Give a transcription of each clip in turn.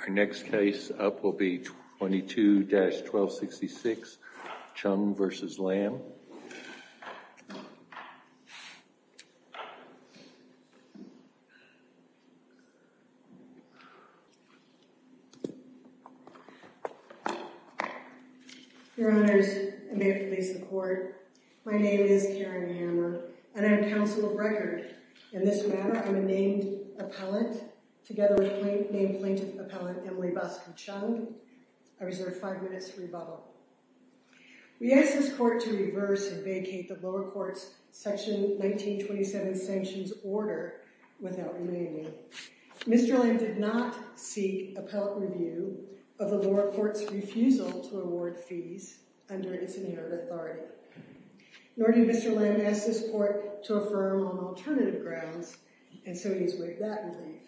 Our next case up will be 22-1266 Chung v. Lamb Your honors, I may have to face the court. My name is Karen Hammer and I'm counsel of record. In this matter, I'm a named appellant together with named plaintiff appellant Emily Bosco Chung. I reserve five minutes to rebuttal. We ask this court to reverse and vacate the lower court's section 1927 sanctions order without remaining. Mr. Lamb did not seek appellate review of the lower court's refusal to award fees under its inherent authority. Nor did Mr. Lamb ask this court to affirm on alternative grounds, and so he's waived that relief.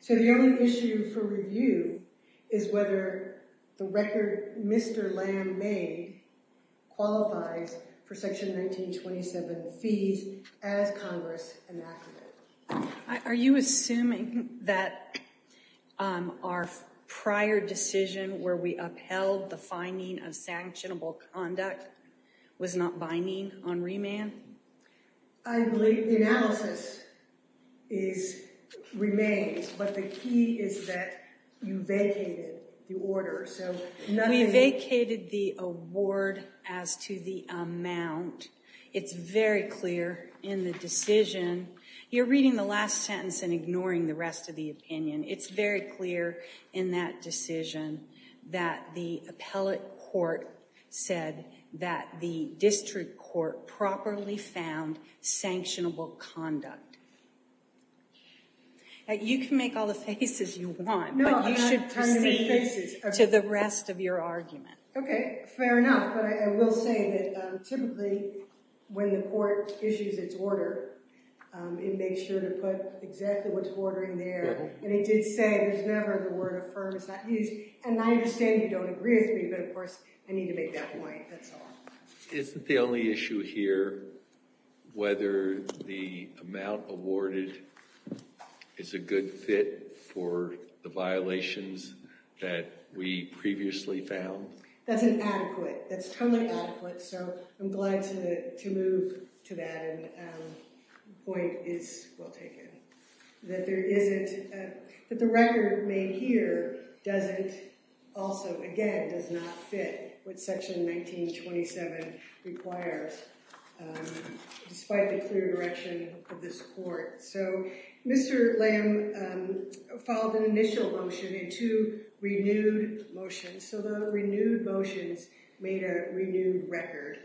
So the only issue for review is whether the record Mr. Lamb made qualifies for section 1927 fees as Congress enacted it. Are you assuming that our prior decision where we upheld the finding of sanctionable conduct was not binding on remand? I believe the analysis remains, but the key is that you vacated the order. We vacated the award as to the amount. It's very clear in the decision. You're reading the last sentence and ignoring the rest of the opinion. It's very clear in that decision that the appellate court said that the district court properly found sanctionable conduct. You can make all the faces you want, but you should proceed to the rest of your argument. Okay, fair enough, but I will say that typically when the court issues its order, it makes sure to put exactly what's ordering there. And it did say there's never the word affirm. It's not used. And I understand you don't agree with me, but of course I need to make that point. That's all. Isn't the only issue here whether the amount awarded is a good fit for the violations that we previously found? That's inadequate. That's totally inadequate, so I'm glad to move to that point is well taken. That the record made here doesn't also, again, does not fit what Section 1927 requires, despite the clear direction of this court. So Mr. Lamb filed an initial motion and two renewed motions, so the renewed motions made a renewed record.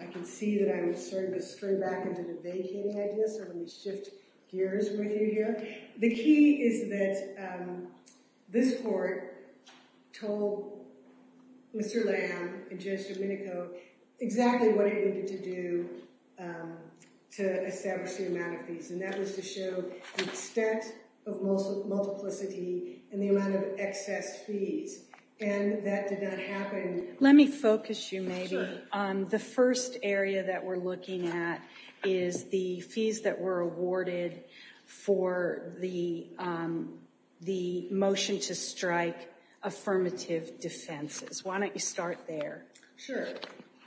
I can see that I'm starting to spring back into the vacating idea, so let me shift gears with you here. The key is that this court told Mr. Lamb and Judge Domenico exactly what it needed to do to establish the amount of fees, and that was to show the extent of multiplicity and the amount of excess fees, and that did not happen. Let me focus you maybe on the first area that we're looking at is the fees that were awarded for the motion to strike affirmative defenses. Why don't you start there? Sure.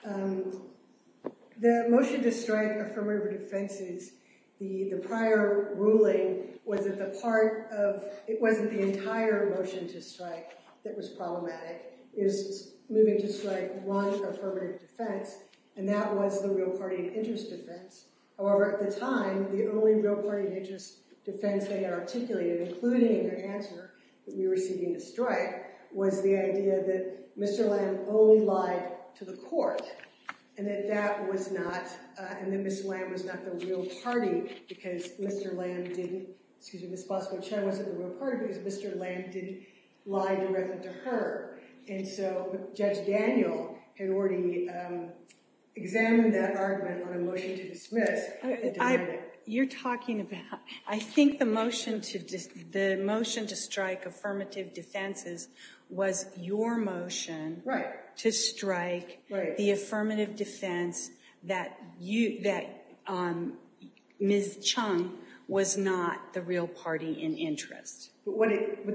The motion to strike affirmative defenses, the prior ruling was that the part of, it wasn't the entire motion to strike that was problematic. It was moving to strike one affirmative defense, and that was the real party interest defense. However, at the time, the only real party interest defense they had articulated, including their answer that we were seeking a strike, was the idea that Mr. Lamb only lied to the court, and that that was not, and that Ms. Lamb was not the real party because Mr. Lamb didn't, excuse me, Ms. Bosco-Chen wasn't the real party because Mr. Lamb didn't lie directly to her, and so Judge Daniel had already examined that argument on a motion to dismiss, and denied it. You're talking about, I think the motion to strike affirmative defenses was your motion to strike the affirmative defense that Ms. Chung was not the real party in interest. Correct.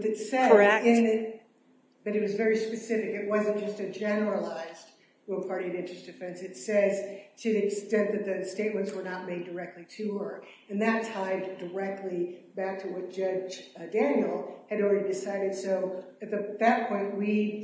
But it was very specific. It wasn't just a generalized real party interest defense. It says to the extent that the statements were not made directly to her, and that tied directly back to what Judge Daniel had already decided. So at that point, we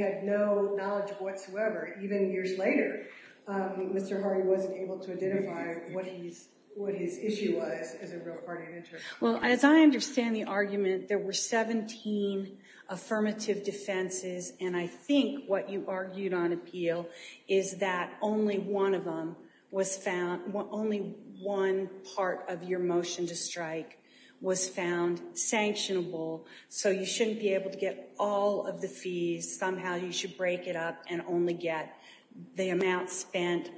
had no knowledge whatsoever. Even years later, Mr. Hardy wasn't able to identify what his issue was as a real party interest. Well, as I understand the argument, there were 17 affirmative defenses, and I think what you argued on appeal is that only one of them was found, only one part of your motion to strike was found sanctionable, so you shouldn't be able to get all of the fees. Somehow you should break it up and only get the amount spent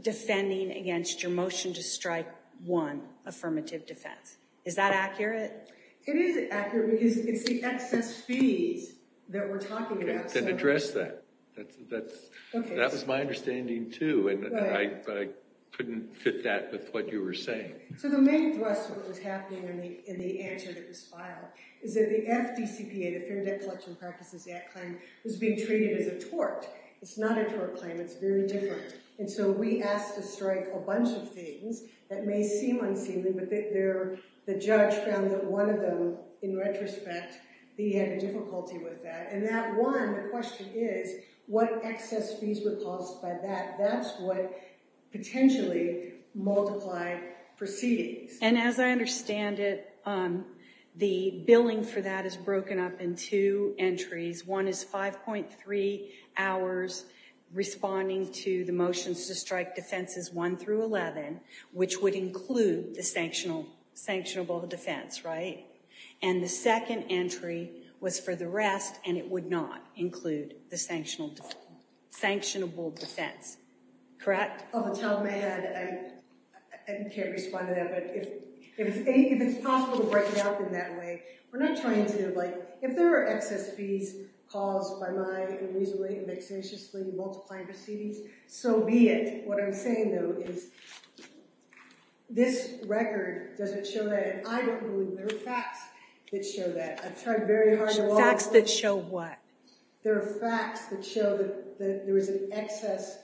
defending against your motion to strike one affirmative defense. Is that accurate? It is accurate because it's the excess fees that we're talking about. Okay, then address that. That was my understanding too, but I couldn't fit that with what you were saying. So the main thrust of what was happening in the answer that was filed is that the FDCPA, the Fair Debt Collection Practices Act claim, was being treated as a tort. It's not a tort claim. It's very different. And so we asked to strike a bunch of things that may seem unseemly, but the judge found that one of them, in retrospect, he had a difficulty with that. And that one, the question is, what excess fees were caused by that? That's what potentially multiplied proceedings. And as I understand it, the billing for that is broken up in two entries. One is 5.3 hours responding to the motions to strike defenses 1 through 11, which would include the sanctionable defense, right? And the second entry was for the rest, and it would not include the sanctionable defense. Correct? Off the top of my head, I can't respond to that, but if it's possible to break it up in that way. We're not trying to, like, if there are excess fees caused by my unreasonably and vexatiously multiplying proceedings, so be it. What I'm saying, though, is this record doesn't show that, and I don't believe there are facts that show that. I've tried very hard. Facts that show what? There are facts that show that there is an excess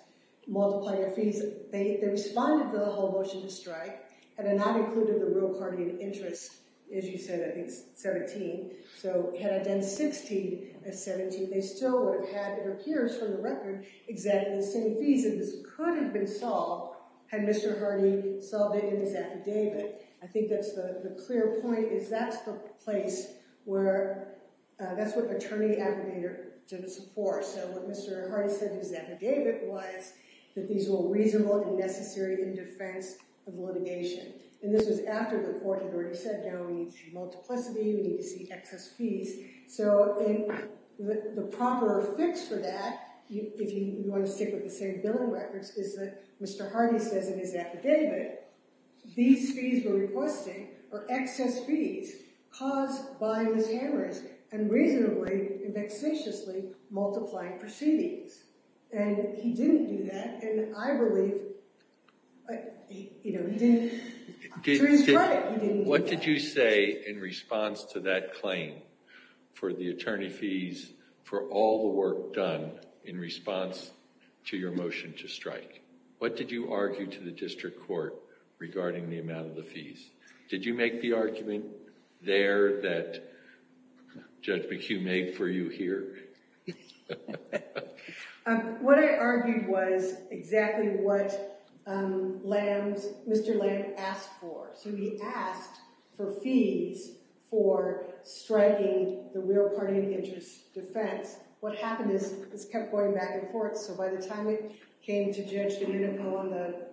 multiplier fees. They responded to the whole motion to strike, and it not included the real card in interest. As you said, I think it's 17. So had I done 16 as 17, they still would have had, it appears from the record, exactly the same fees. The reason this could have been solved had Mr. Hardy solved it in his affidavit. I think that's the clear point, is that's the place where, that's what attorney applicator did this for. So what Mr. Hardy said in his affidavit was that these were reasonable and necessary in defense of litigation, and this was after the court had already said, we need to see multiplicity, we need to see excess fees. So the proper fix for that, if you want to stick with the same billing records, is that Mr. Hardy says in his affidavit, these fees we're requesting are excess fees caused by Ms. Hammers unreasonably and vexatiously multiplying proceedings. And he didn't do that, and I believe, you know, he didn't. What did you say in response to that claim for the attorney fees for all the work done in response to your motion to strike? What did you argue to the district court regarding the amount of the fees? Did you make the argument there that Judge McHugh made for you here? What I argued was exactly what Mr. Lamb asked for. So he asked for fees for striking the real party of interest defense. What happened is this kept going back and forth, so by the time it came to Judge Domenico on the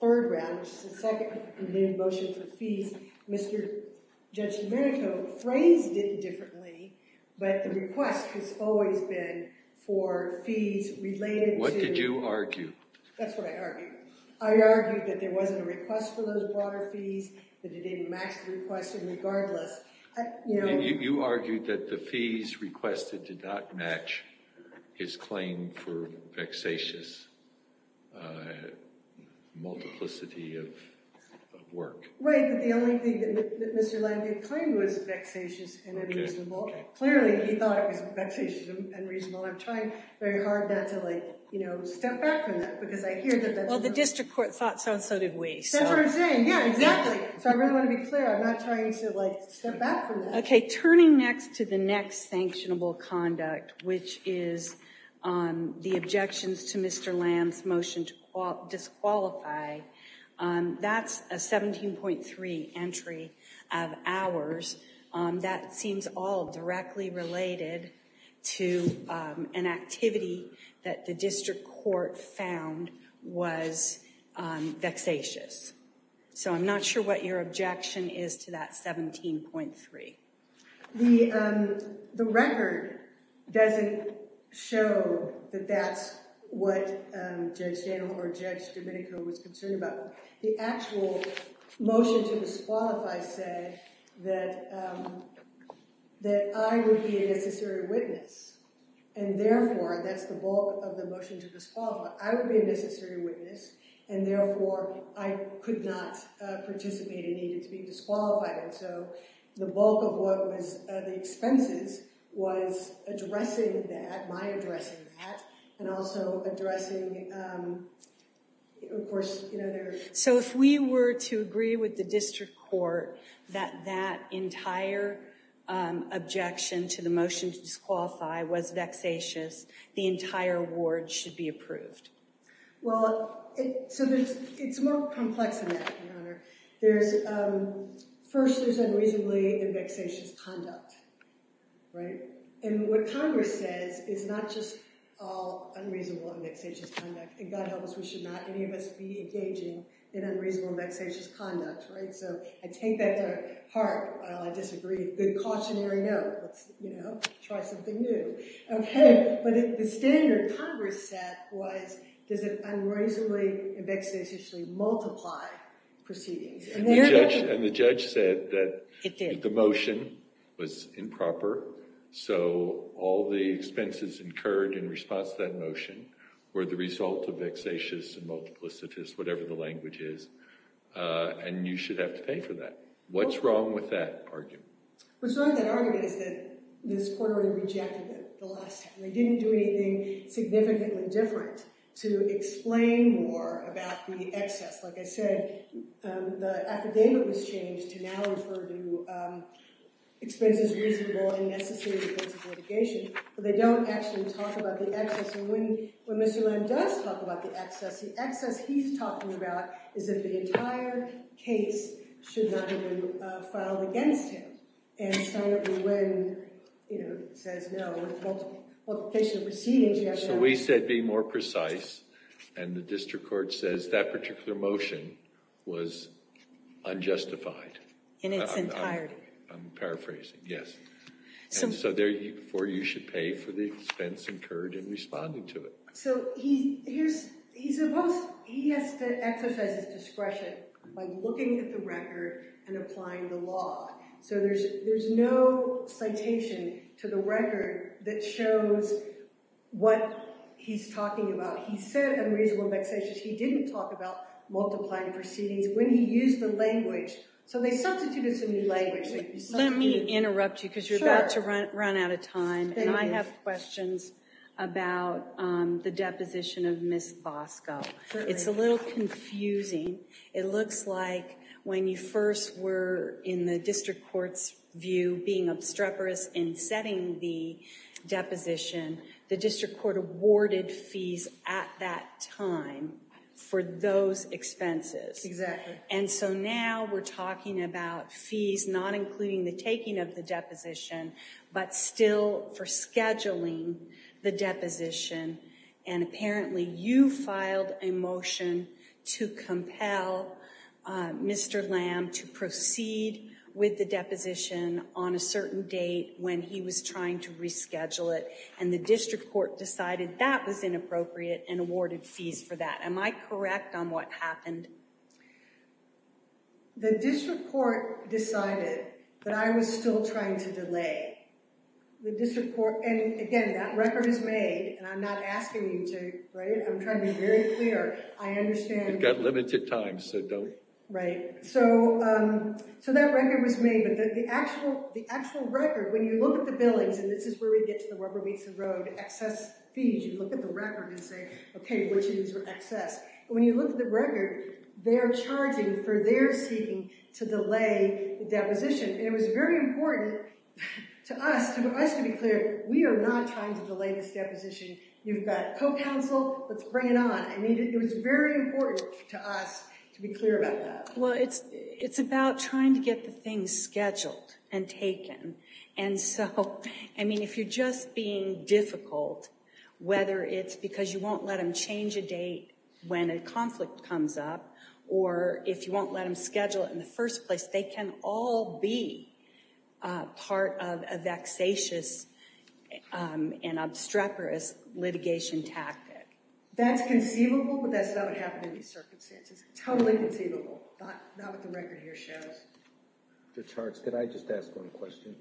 third round, which is the second motion for fees, Mr. Judge Domenico phrased it differently, but the request has always been for fees related to... What did you argue? That's what I argued. I argued that there wasn't a request for those broader fees, that it didn't match the request, and regardless... You argued that the fees requested did not match his claim for vexatious multiplicity of work. Right, but the only thing that Mr. Lamb did claim was vexatious and unreasonable. Clearly, he thought it was vexatious and unreasonable. I'm trying very hard not to, like, you know, step back from that because I hear that... Well, the district court thought so and so did we. That's what I'm saying. Yeah, exactly. So I really want to be clear. I'm not trying to, like, step back from that. Okay, turning next to the next sanctionable conduct, which is the objections to Mr. Lamb's motion to disqualify, that's a 17.3 entry of hours. That seems all directly related to an activity that the district court found was vexatious. So I'm not sure what your objection is to that 17.3. The record doesn't show that that's what Judge Daniel or Judge Domenico was concerned about. The actual motion to disqualify said that I would be a necessary witness, and therefore that's the bulk of the motion to disqualify. I would be a necessary witness, and therefore I could not participate and needed to be disqualified. And so the bulk of what was the expenses was addressing that, my addressing that, and also addressing, of course, you know... So if we were to agree with the district court that that entire objection to the motion to disqualify was vexatious, the entire award should be approved. Well, so it's more complex than that, Your Honor. First, there's unreasonably vexatious conduct, right? And what Congress says is not just all unreasonable and vexatious conduct. And God help us, we should not, any of us, be engaging in unreasonable and vexatious conduct, right? So I take that to heart. While I disagree, good cautionary note. Let's, you know, try something new. Okay, but the standard Congress set was, does it unreasonably and vexatiously multiply proceedings? And the judge said that the motion was improper. So all the expenses incurred in response to that motion were the result of vexatious and multiplicitous, whatever the language is. And you should have to pay for that. What's wrong with that argument? What's wrong with that argument is that this court already rejected it the last time. They didn't do anything significantly different to explain more about the excess. Like I said, the affidavit was changed to now refer to expenses reasonable and necessary in defense of litigation. But they don't actually talk about the excess. And when Mr. Lamb does talk about the excess, the excess he's talking about is that the entire case should not have been filed against him. And so when, you know, it says no, multiplication of proceedings, you have to have— Yeah, so we said be more precise. And the district court says that particular motion was unjustified. In its entirety. I'm paraphrasing, yes. And so therefore you should pay for the expense incurred in responding to it. So he has to exercise his discretion by looking at the record and applying the law. So there's no citation to the record that shows what he's talking about. He said unreasonable vexations. He didn't talk about multiplying proceedings when he used the language. So they substituted some new language. Let me interrupt you because you're about to run out of time. And I have questions about the deposition of Ms. Bosco. It's a little confusing. It looks like when you first were in the district court's view being obstreperous in setting the deposition, the district court awarded fees at that time for those expenses. Exactly. And so now we're talking about fees not including the taking of the deposition, but still for scheduling the deposition. And apparently you filed a motion to compel Mr. Lamb to proceed with the deposition on a certain date when he was trying to reschedule it. And the district court decided that was inappropriate and awarded fees for that. Am I correct on what happened? The district court decided that I was still trying to delay. And again, that record is made. And I'm not asking you to write it. I'm trying to be very clear. I understand. You've got limited time, so don't. Right. So that record was made. But the actual record, when you look at the billings, and this is where we get to the rubber meets the road, excess fees. You look at the record and say, OK, which is excess. When you look at the record, they're charging for their seeking to delay the deposition. And it was very important to us to be clear, we are not trying to delay this deposition. You've got co-counsel. Let's bring it on. I mean, it was very important to us to be clear about that. Well, it's about trying to get the things scheduled and taken. And so, I mean, if you're just being difficult, whether it's because you won't let them change a date when a conflict comes up, or if you won't let them schedule it in the first place, they can all be part of a vexatious and obstreperous litigation tactic. That's conceivable, but that's not what happened in these circumstances. Totally conceivable. Not what the record here shows. Judge Hartz, could I just ask one question?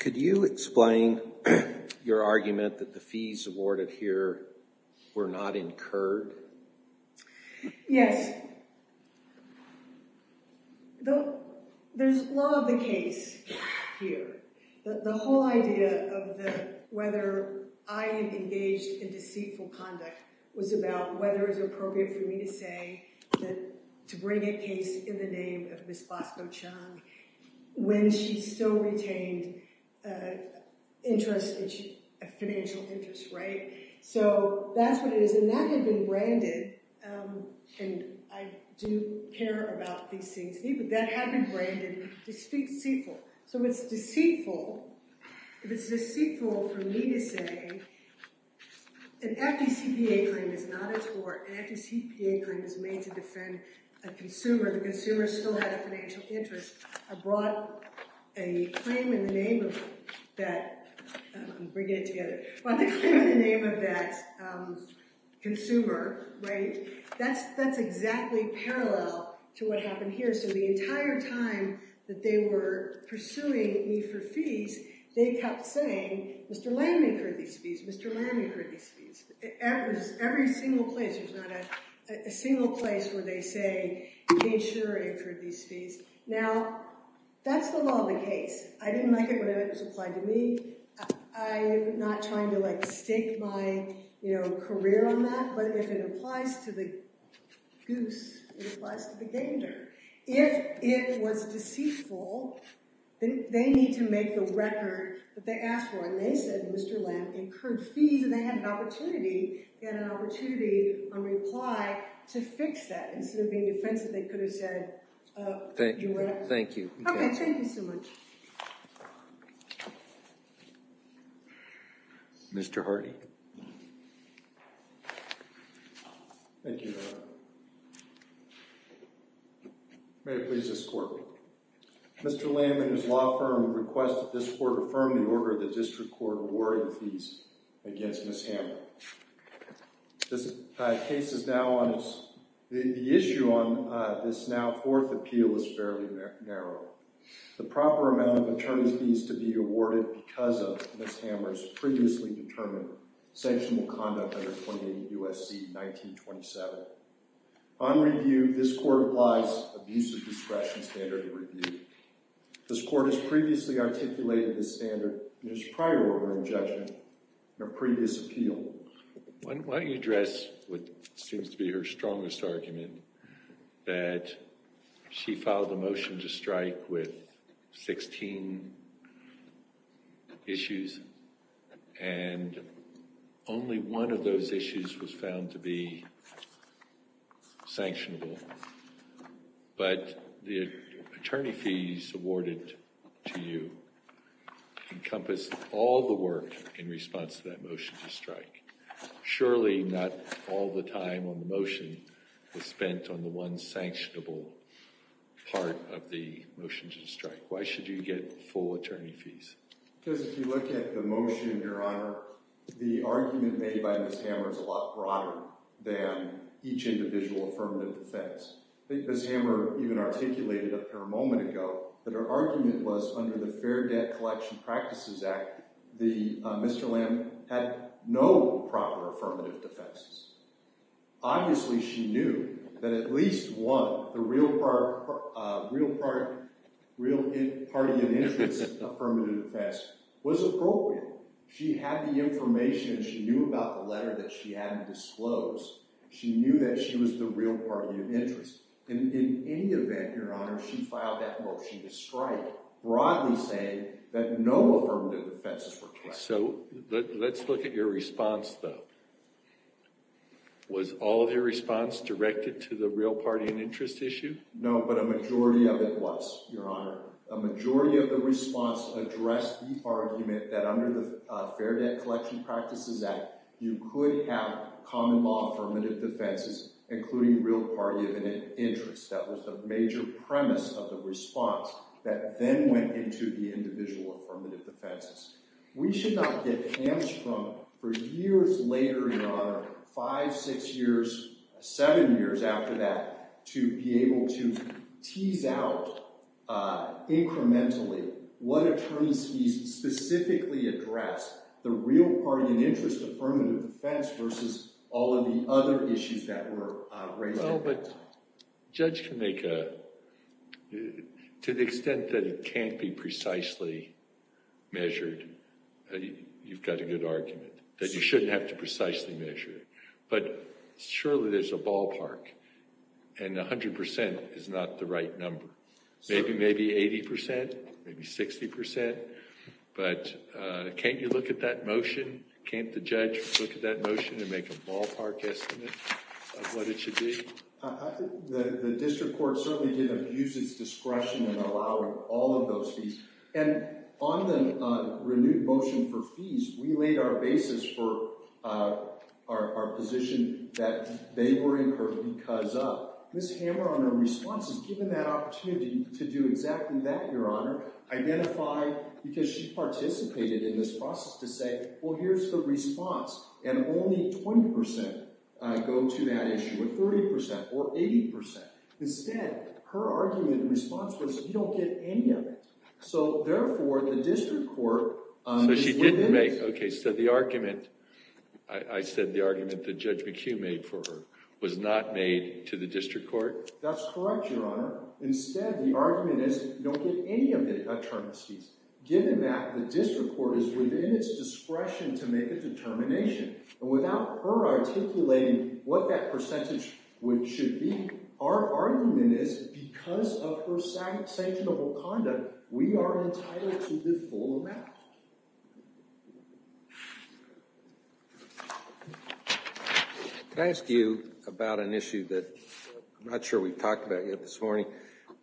Could you explain your argument that the fees awarded here were not incurred? Yes. There's law of the case here. The whole idea of whether I engaged in deceitful conduct was about whether it was appropriate for me to say that, to bring a case in the name of Ms. Bosco Chung when she still retained interest, financial interest, right? So that's what it is. And that had been branded, and I do care about these things, but that had been branded deceitful. So if it's deceitful, if it's deceitful for me to say an FDCPA claim is not a tort, an FDCPA claim is made to defend a consumer, the consumer still had a financial interest, I brought a claim in the name of that consumer, right? That's exactly parallel to what happened here. So the entire time that they were pursuing me for fees, they kept saying, Mr. Landman incurred these fees, Mr. Landman incurred these fees. Every single place. There's not a single place where they say, you made sure I incurred these fees. Now, that's the law of the case. I didn't like it whenever it was applied to me. I'm not trying to stake my career on that, but if it applies to the goose, it applies to the gander. If it was deceitful, then they need to make the record that they asked for. And they said, Mr. Landman incurred fees, and they had an opportunity, they had an opportunity on reply to fix that. Instead of being defensive, they could have said, do whatever. Okay, thank you so much. Mr. Hardy. Thank you, Your Honor. May it please this court. Mr. Landman, whose law firm requested this court affirm the order of the district court awarding fees against Ms. Hamlin. This case is now on its, the issue on this now fourth appeal is fairly narrow. The proper amount of attorneys fees to be awarded because of Ms. Hammer's previously determined sanctionable conduct under 28 U.S.C. 1927. On review, this court applies abuse of discretion standard of review. This court has previously articulated this standard in its prior order of judgment in a previous appeal. Why don't you address what seems to be her strongest argument that she filed a motion to strike with 16 issues. And only one of those issues was found to be sanctionable. But the attorney fees awarded to you encompass all the work in response to that motion to strike. Surely not all the time on the motion was spent on the one sanctionable part of the motion to strike. Why should you get full attorney fees? Because if you look at the motion, Your Honor, the argument made by Ms. Hammer is a lot broader than each individual affirmative defense. Ms. Hammer even articulated a moment ago that her argument was under the Fair Debt Collection Practices Act, Mr. Landman had no proper affirmative defenses. Obviously she knew that at least one, the real party of interest affirmative defense was appropriate. She had the information and she knew about the letter that she had to disclose. She knew that she was the real party of interest. And in any event, Your Honor, she filed that motion to strike, broadly saying that no affirmative defenses were correct. So let's look at your response, though. Was all of your response directed to the real party of interest issue? No, but a majority of it was, Your Honor. A majority of the response addressed the argument that under the Fair Debt Collection Practices Act, you could have common law affirmative defenses, including real party of interest. That was the major premise of the response that then went into the individual affirmative defenses. We should not get hands-frump for years later, Your Honor, five, six years, seven years after that, to be able to tease out incrementally what attorneys specifically addressed, the real party of interest affirmative defense versus all of the other issues that were raised. Well, but judge can make a, to the extent that it can't be precisely measured, you've got a good argument that you shouldn't have to precisely measure it. But surely there's a ballpark, and 100% is not the right number. Maybe 80%, maybe 60%, but can't you look at that motion? Can't the judge look at that motion and make a ballpark estimate of what it should be? The district court certainly did abuse its discretion in allowing all of those fees. And on the renewed motion for fees, we laid our basis for our position that they were incurred because of. Ms. Hammer, on her response, is given that opportunity to do exactly that, Your Honor. Identify, because she participated in this process, to say, well, here's the response. And only 20% go to that issue, or 30%, or 80%. Instead, her argument and response was, we don't get any of it. So therefore, the district court is limited. OK, so the argument, I said the argument that Judge McHugh made for her, was not made to the district court? That's correct, Your Honor. Instead, the argument is, we don't get any of the attorneys fees, given that the district court is within its discretion to make a determination. And without her articulating what that percentage should be, our argument is, because of her sanctionable conduct, we are entitled to the full amount. Thank you. Can I ask you about an issue that I'm not sure we've talked about yet this morning?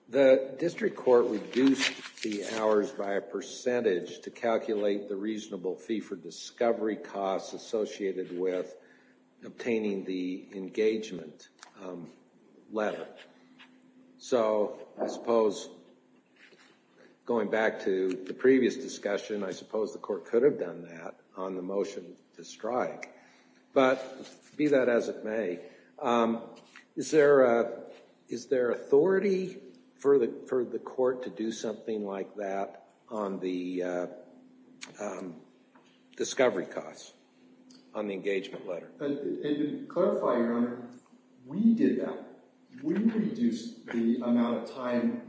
The district court reduced the hours by a percentage to calculate the reasonable fee for discovery costs associated with obtaining the engagement letter. So I suppose, going back to the previous discussion, I suppose the court could have done that on the motion to strike. But be that as it may, is there authority for the court to do something like that on the discovery costs on the engagement letter? And to clarify, Your Honor, we did that. We reduced the amount of time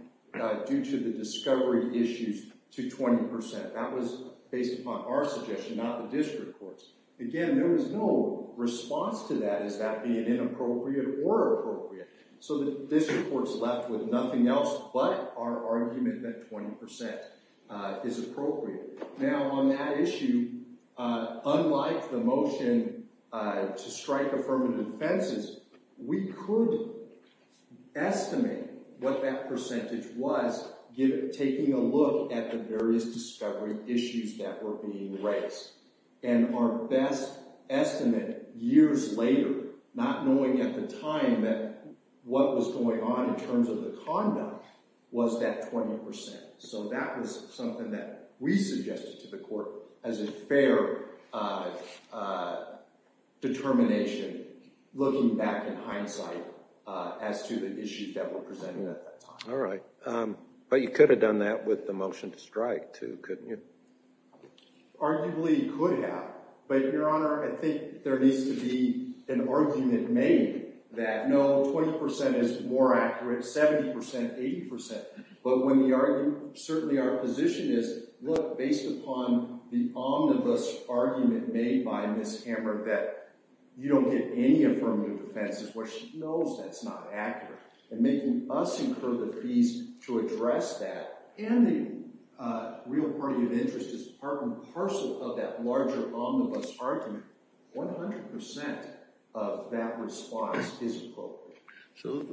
due to the discovery issues to 20%. That was based upon our suggestion, not the district court's. Again, there was no response to that as that being inappropriate or appropriate. So the district court's left with nothing else but our argument that 20% is appropriate. Now, on that issue, unlike the motion to strike affirmative offenses, we could estimate what that percentage was taking a look at the various discovery issues that were being raised. And our best estimate years later, not knowing at the time what was going on in terms of the conduct, was that 20%. So that was something that we suggested to the court as a fair determination looking back in hindsight as to the issues that were presented at that time. All right. But you could have done that with the motion to strike, too, couldn't you? Arguably, you could have. But, Your Honor, I think there needs to be an argument made that, no, 20% is more accurate, 70%, 80%. But when we argue, certainly our position is, look, based upon the omnibus argument made by Ms. Hamrick that you don't get any affirmative offenses, well, she knows that's not accurate. And making us incur the fees to address that, and the real party of interest is part and parcel of that larger omnibus argument, 100% of that response is appropriate. So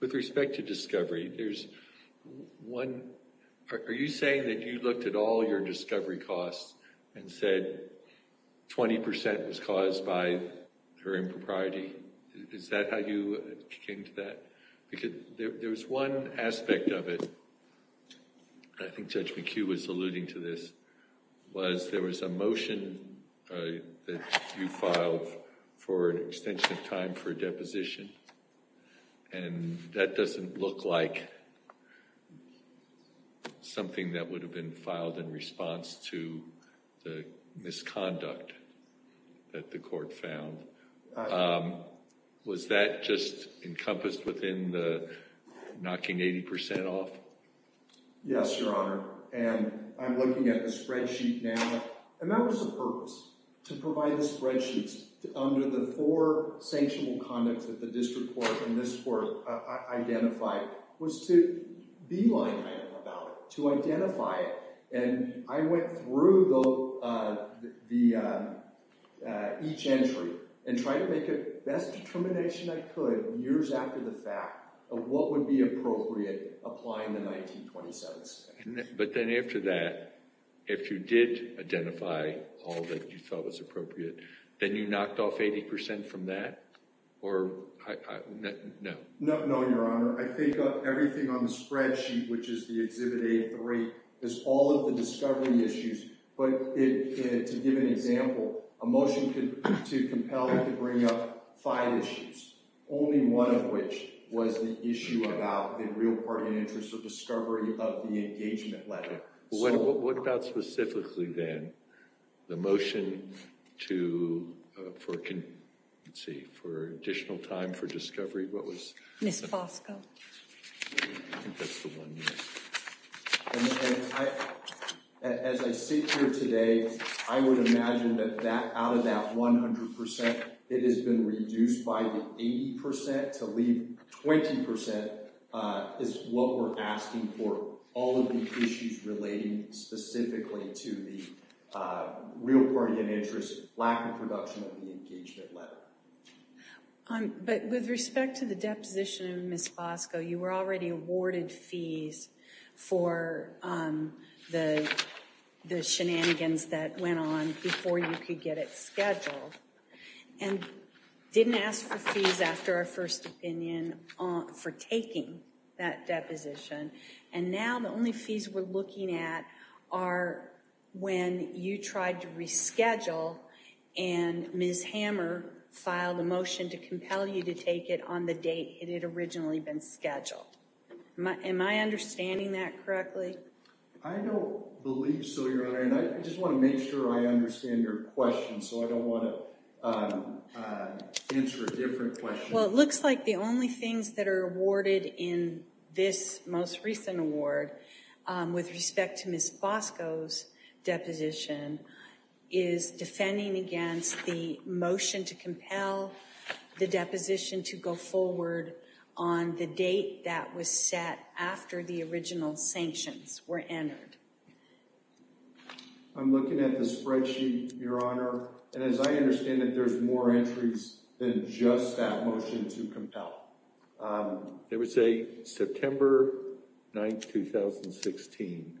with respect to discovery, are you saying that you looked at all your discovery costs and said 20% was caused by her impropriety? Is that how you came to that? Because there was one aspect of it, I think Judge McHugh was alluding to this, was there was a motion that you filed for an extension of time for a deposition. And that doesn't look like something that would have been filed in response to the misconduct that the court found. Was that just encompassed within the knocking 80% off? Yes, Your Honor. And I'm looking at the spreadsheet now. And that was the purpose, to provide the spreadsheets under the four sanctionable conducts that the district court and this court identified, was to be line item about it, to identify it. And I went through each entry and tried to make the best determination I could, years after the fact, of what would be appropriate applying the 1927 statute. But then after that, if you did identify all that you thought was appropriate, then you knocked off 80% from that? Or, no? No, Your Honor. I think of everything on the spreadsheet, which is the Exhibit A3, is all of the discovery issues. But to give an example, a motion to compel it to bring up five issues, only one of which was the issue about the real part and interest of discovery of the engagement letter. What about specifically, then, the motion for additional time for discovery? Ms. Fosco. I think that's the one, yes. As I sit here today, I would imagine that out of that 100%, it has been reduced by 80% to leave 20%, is what we're asking for all of the issues relating specifically to the real part and interest, lack of production of the engagement letter. But with respect to the deposition of Ms. Fosco, you were already awarded fees for the shenanigans that went on before you could get it scheduled. And didn't ask for fees after our first opinion for taking that deposition. And now the only fees we're looking at are when you tried to reschedule and Ms. Hammer filed a motion to compel you to take it on the date it had originally been scheduled. Am I understanding that correctly? I don't believe so, Your Honor. And I just want to make sure I understand your question, so I don't want to answer a different question. Well, it looks like the only things that are awarded in this most recent award with respect to Ms. Fosco's deposition is defending against the motion to compel the deposition to go forward on the date that was set after the original sanctions were entered. I'm looking at the spreadsheet, Your Honor. And as I understand it, there's more entries than just that motion to compel. It would say September 9th, 2016.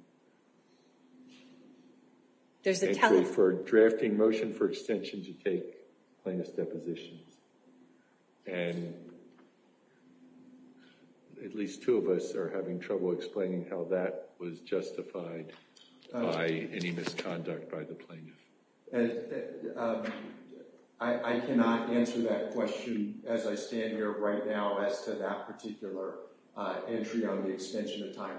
There's a telephone. Entry for drafting motion for extension to take plaintiff's deposition. And at least two of us are having trouble explaining how that was justified by any misconduct by the plaintiff. I cannot answer that question as I stand here right now as to that particular entry on the extension of time.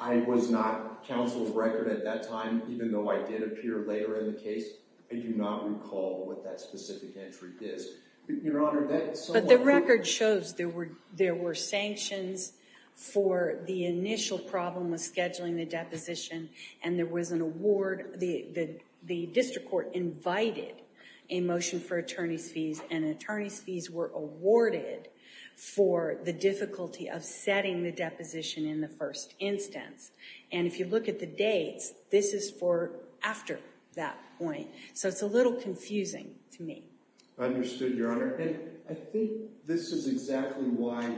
I was not counsel's record at that time, even though I did appear later in the case. I do not recall what that specific entry is. But the record shows there were sanctions for the initial problem with scheduling the deposition, and there was an award. The district court invited a motion for attorney's fees, and attorney's fees were awarded for the difficulty of setting the deposition in the first instance. And if you look at the dates, this is for after that point. So it's a little confusing to me. Understood, Your Honor. And I think this is exactly why,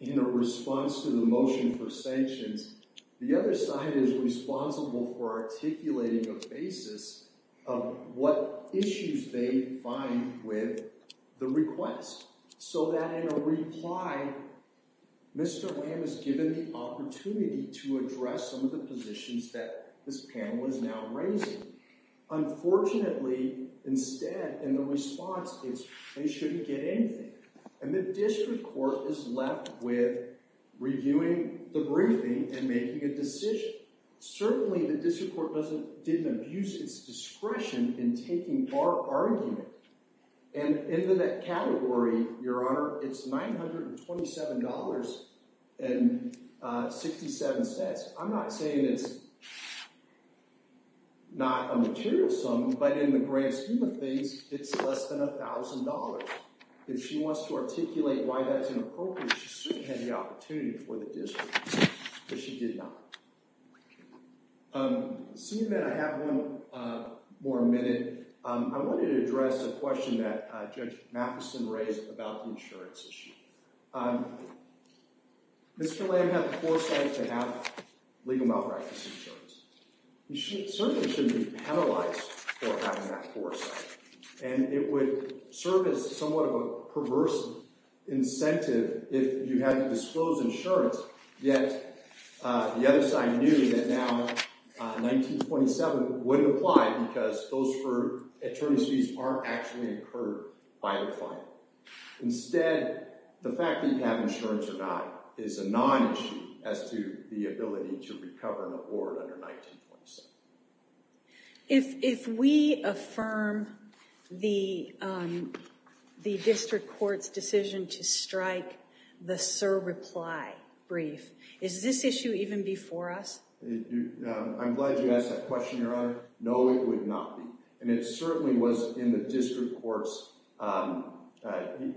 in the response to the motion for sanctions, the other side is responsible for articulating a basis of what issues they find with the request. So that in a reply, Mr. Wham has given the opportunity to address some of the positions that this panel is now raising. Unfortunately, instead, in the response, they shouldn't get anything. And the district court is left with reviewing the briefing and making a decision. Certainly, the district court didn't abuse its discretion in taking our argument. And in the net category, Your Honor, it's $927.67. I'm not saying it's not a material sum, but in the grand scheme of things, it's less than $1,000. If she wants to articulate why that's inappropriate, she certainly had the opportunity for the district, but she did not. Seeing that I have no more minute, I wanted to address a question that Judge Matheson raised about the insurance issue. Mr. Lamb had the foresight to have legal malpractice insurance. He certainly shouldn't be penalized for having that foresight. And it would serve as somewhat of a perverse incentive if you had disclosed insurance, yet the other side knew that now $1,927 wouldn't apply because those for attorneys fees aren't actually incurred by the client. Instead, the fact that you have insurance or not is a non-issue as to the ability to recover an award under $1,927. If we affirm the district court's decision to strike the SIR reply brief, is this issue even before us? I'm glad you asked that question, Your Honor. No, it would not be. And it certainly was in the district court's—it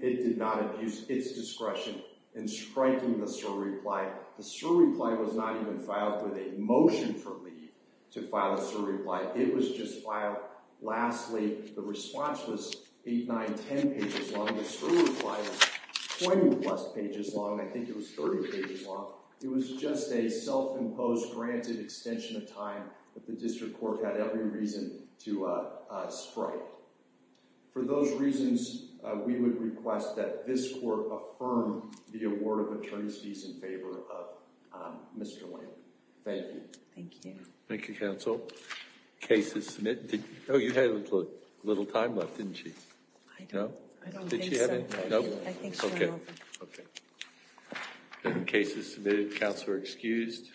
did not abuse its discretion in striking the SIR reply. The SIR reply was not even filed with a motion for leave to file a SIR reply. It was just filed—lastly, the response was 8, 9, 10 pages long. The SIR reply was 20-plus pages long. I think it was 30 pages long. It was just a self-imposed, granted extension of time that the district court had every reason to strike. For those reasons, we would request that this court affirm the award of attorney's fees in favor of Mr. Lane. Thank you. Thank you. Thank you, counsel. Cases submitted—oh, you had a little time left, didn't you? I don't think so. I think so. Okay. Cases submitted. Counsel are excused.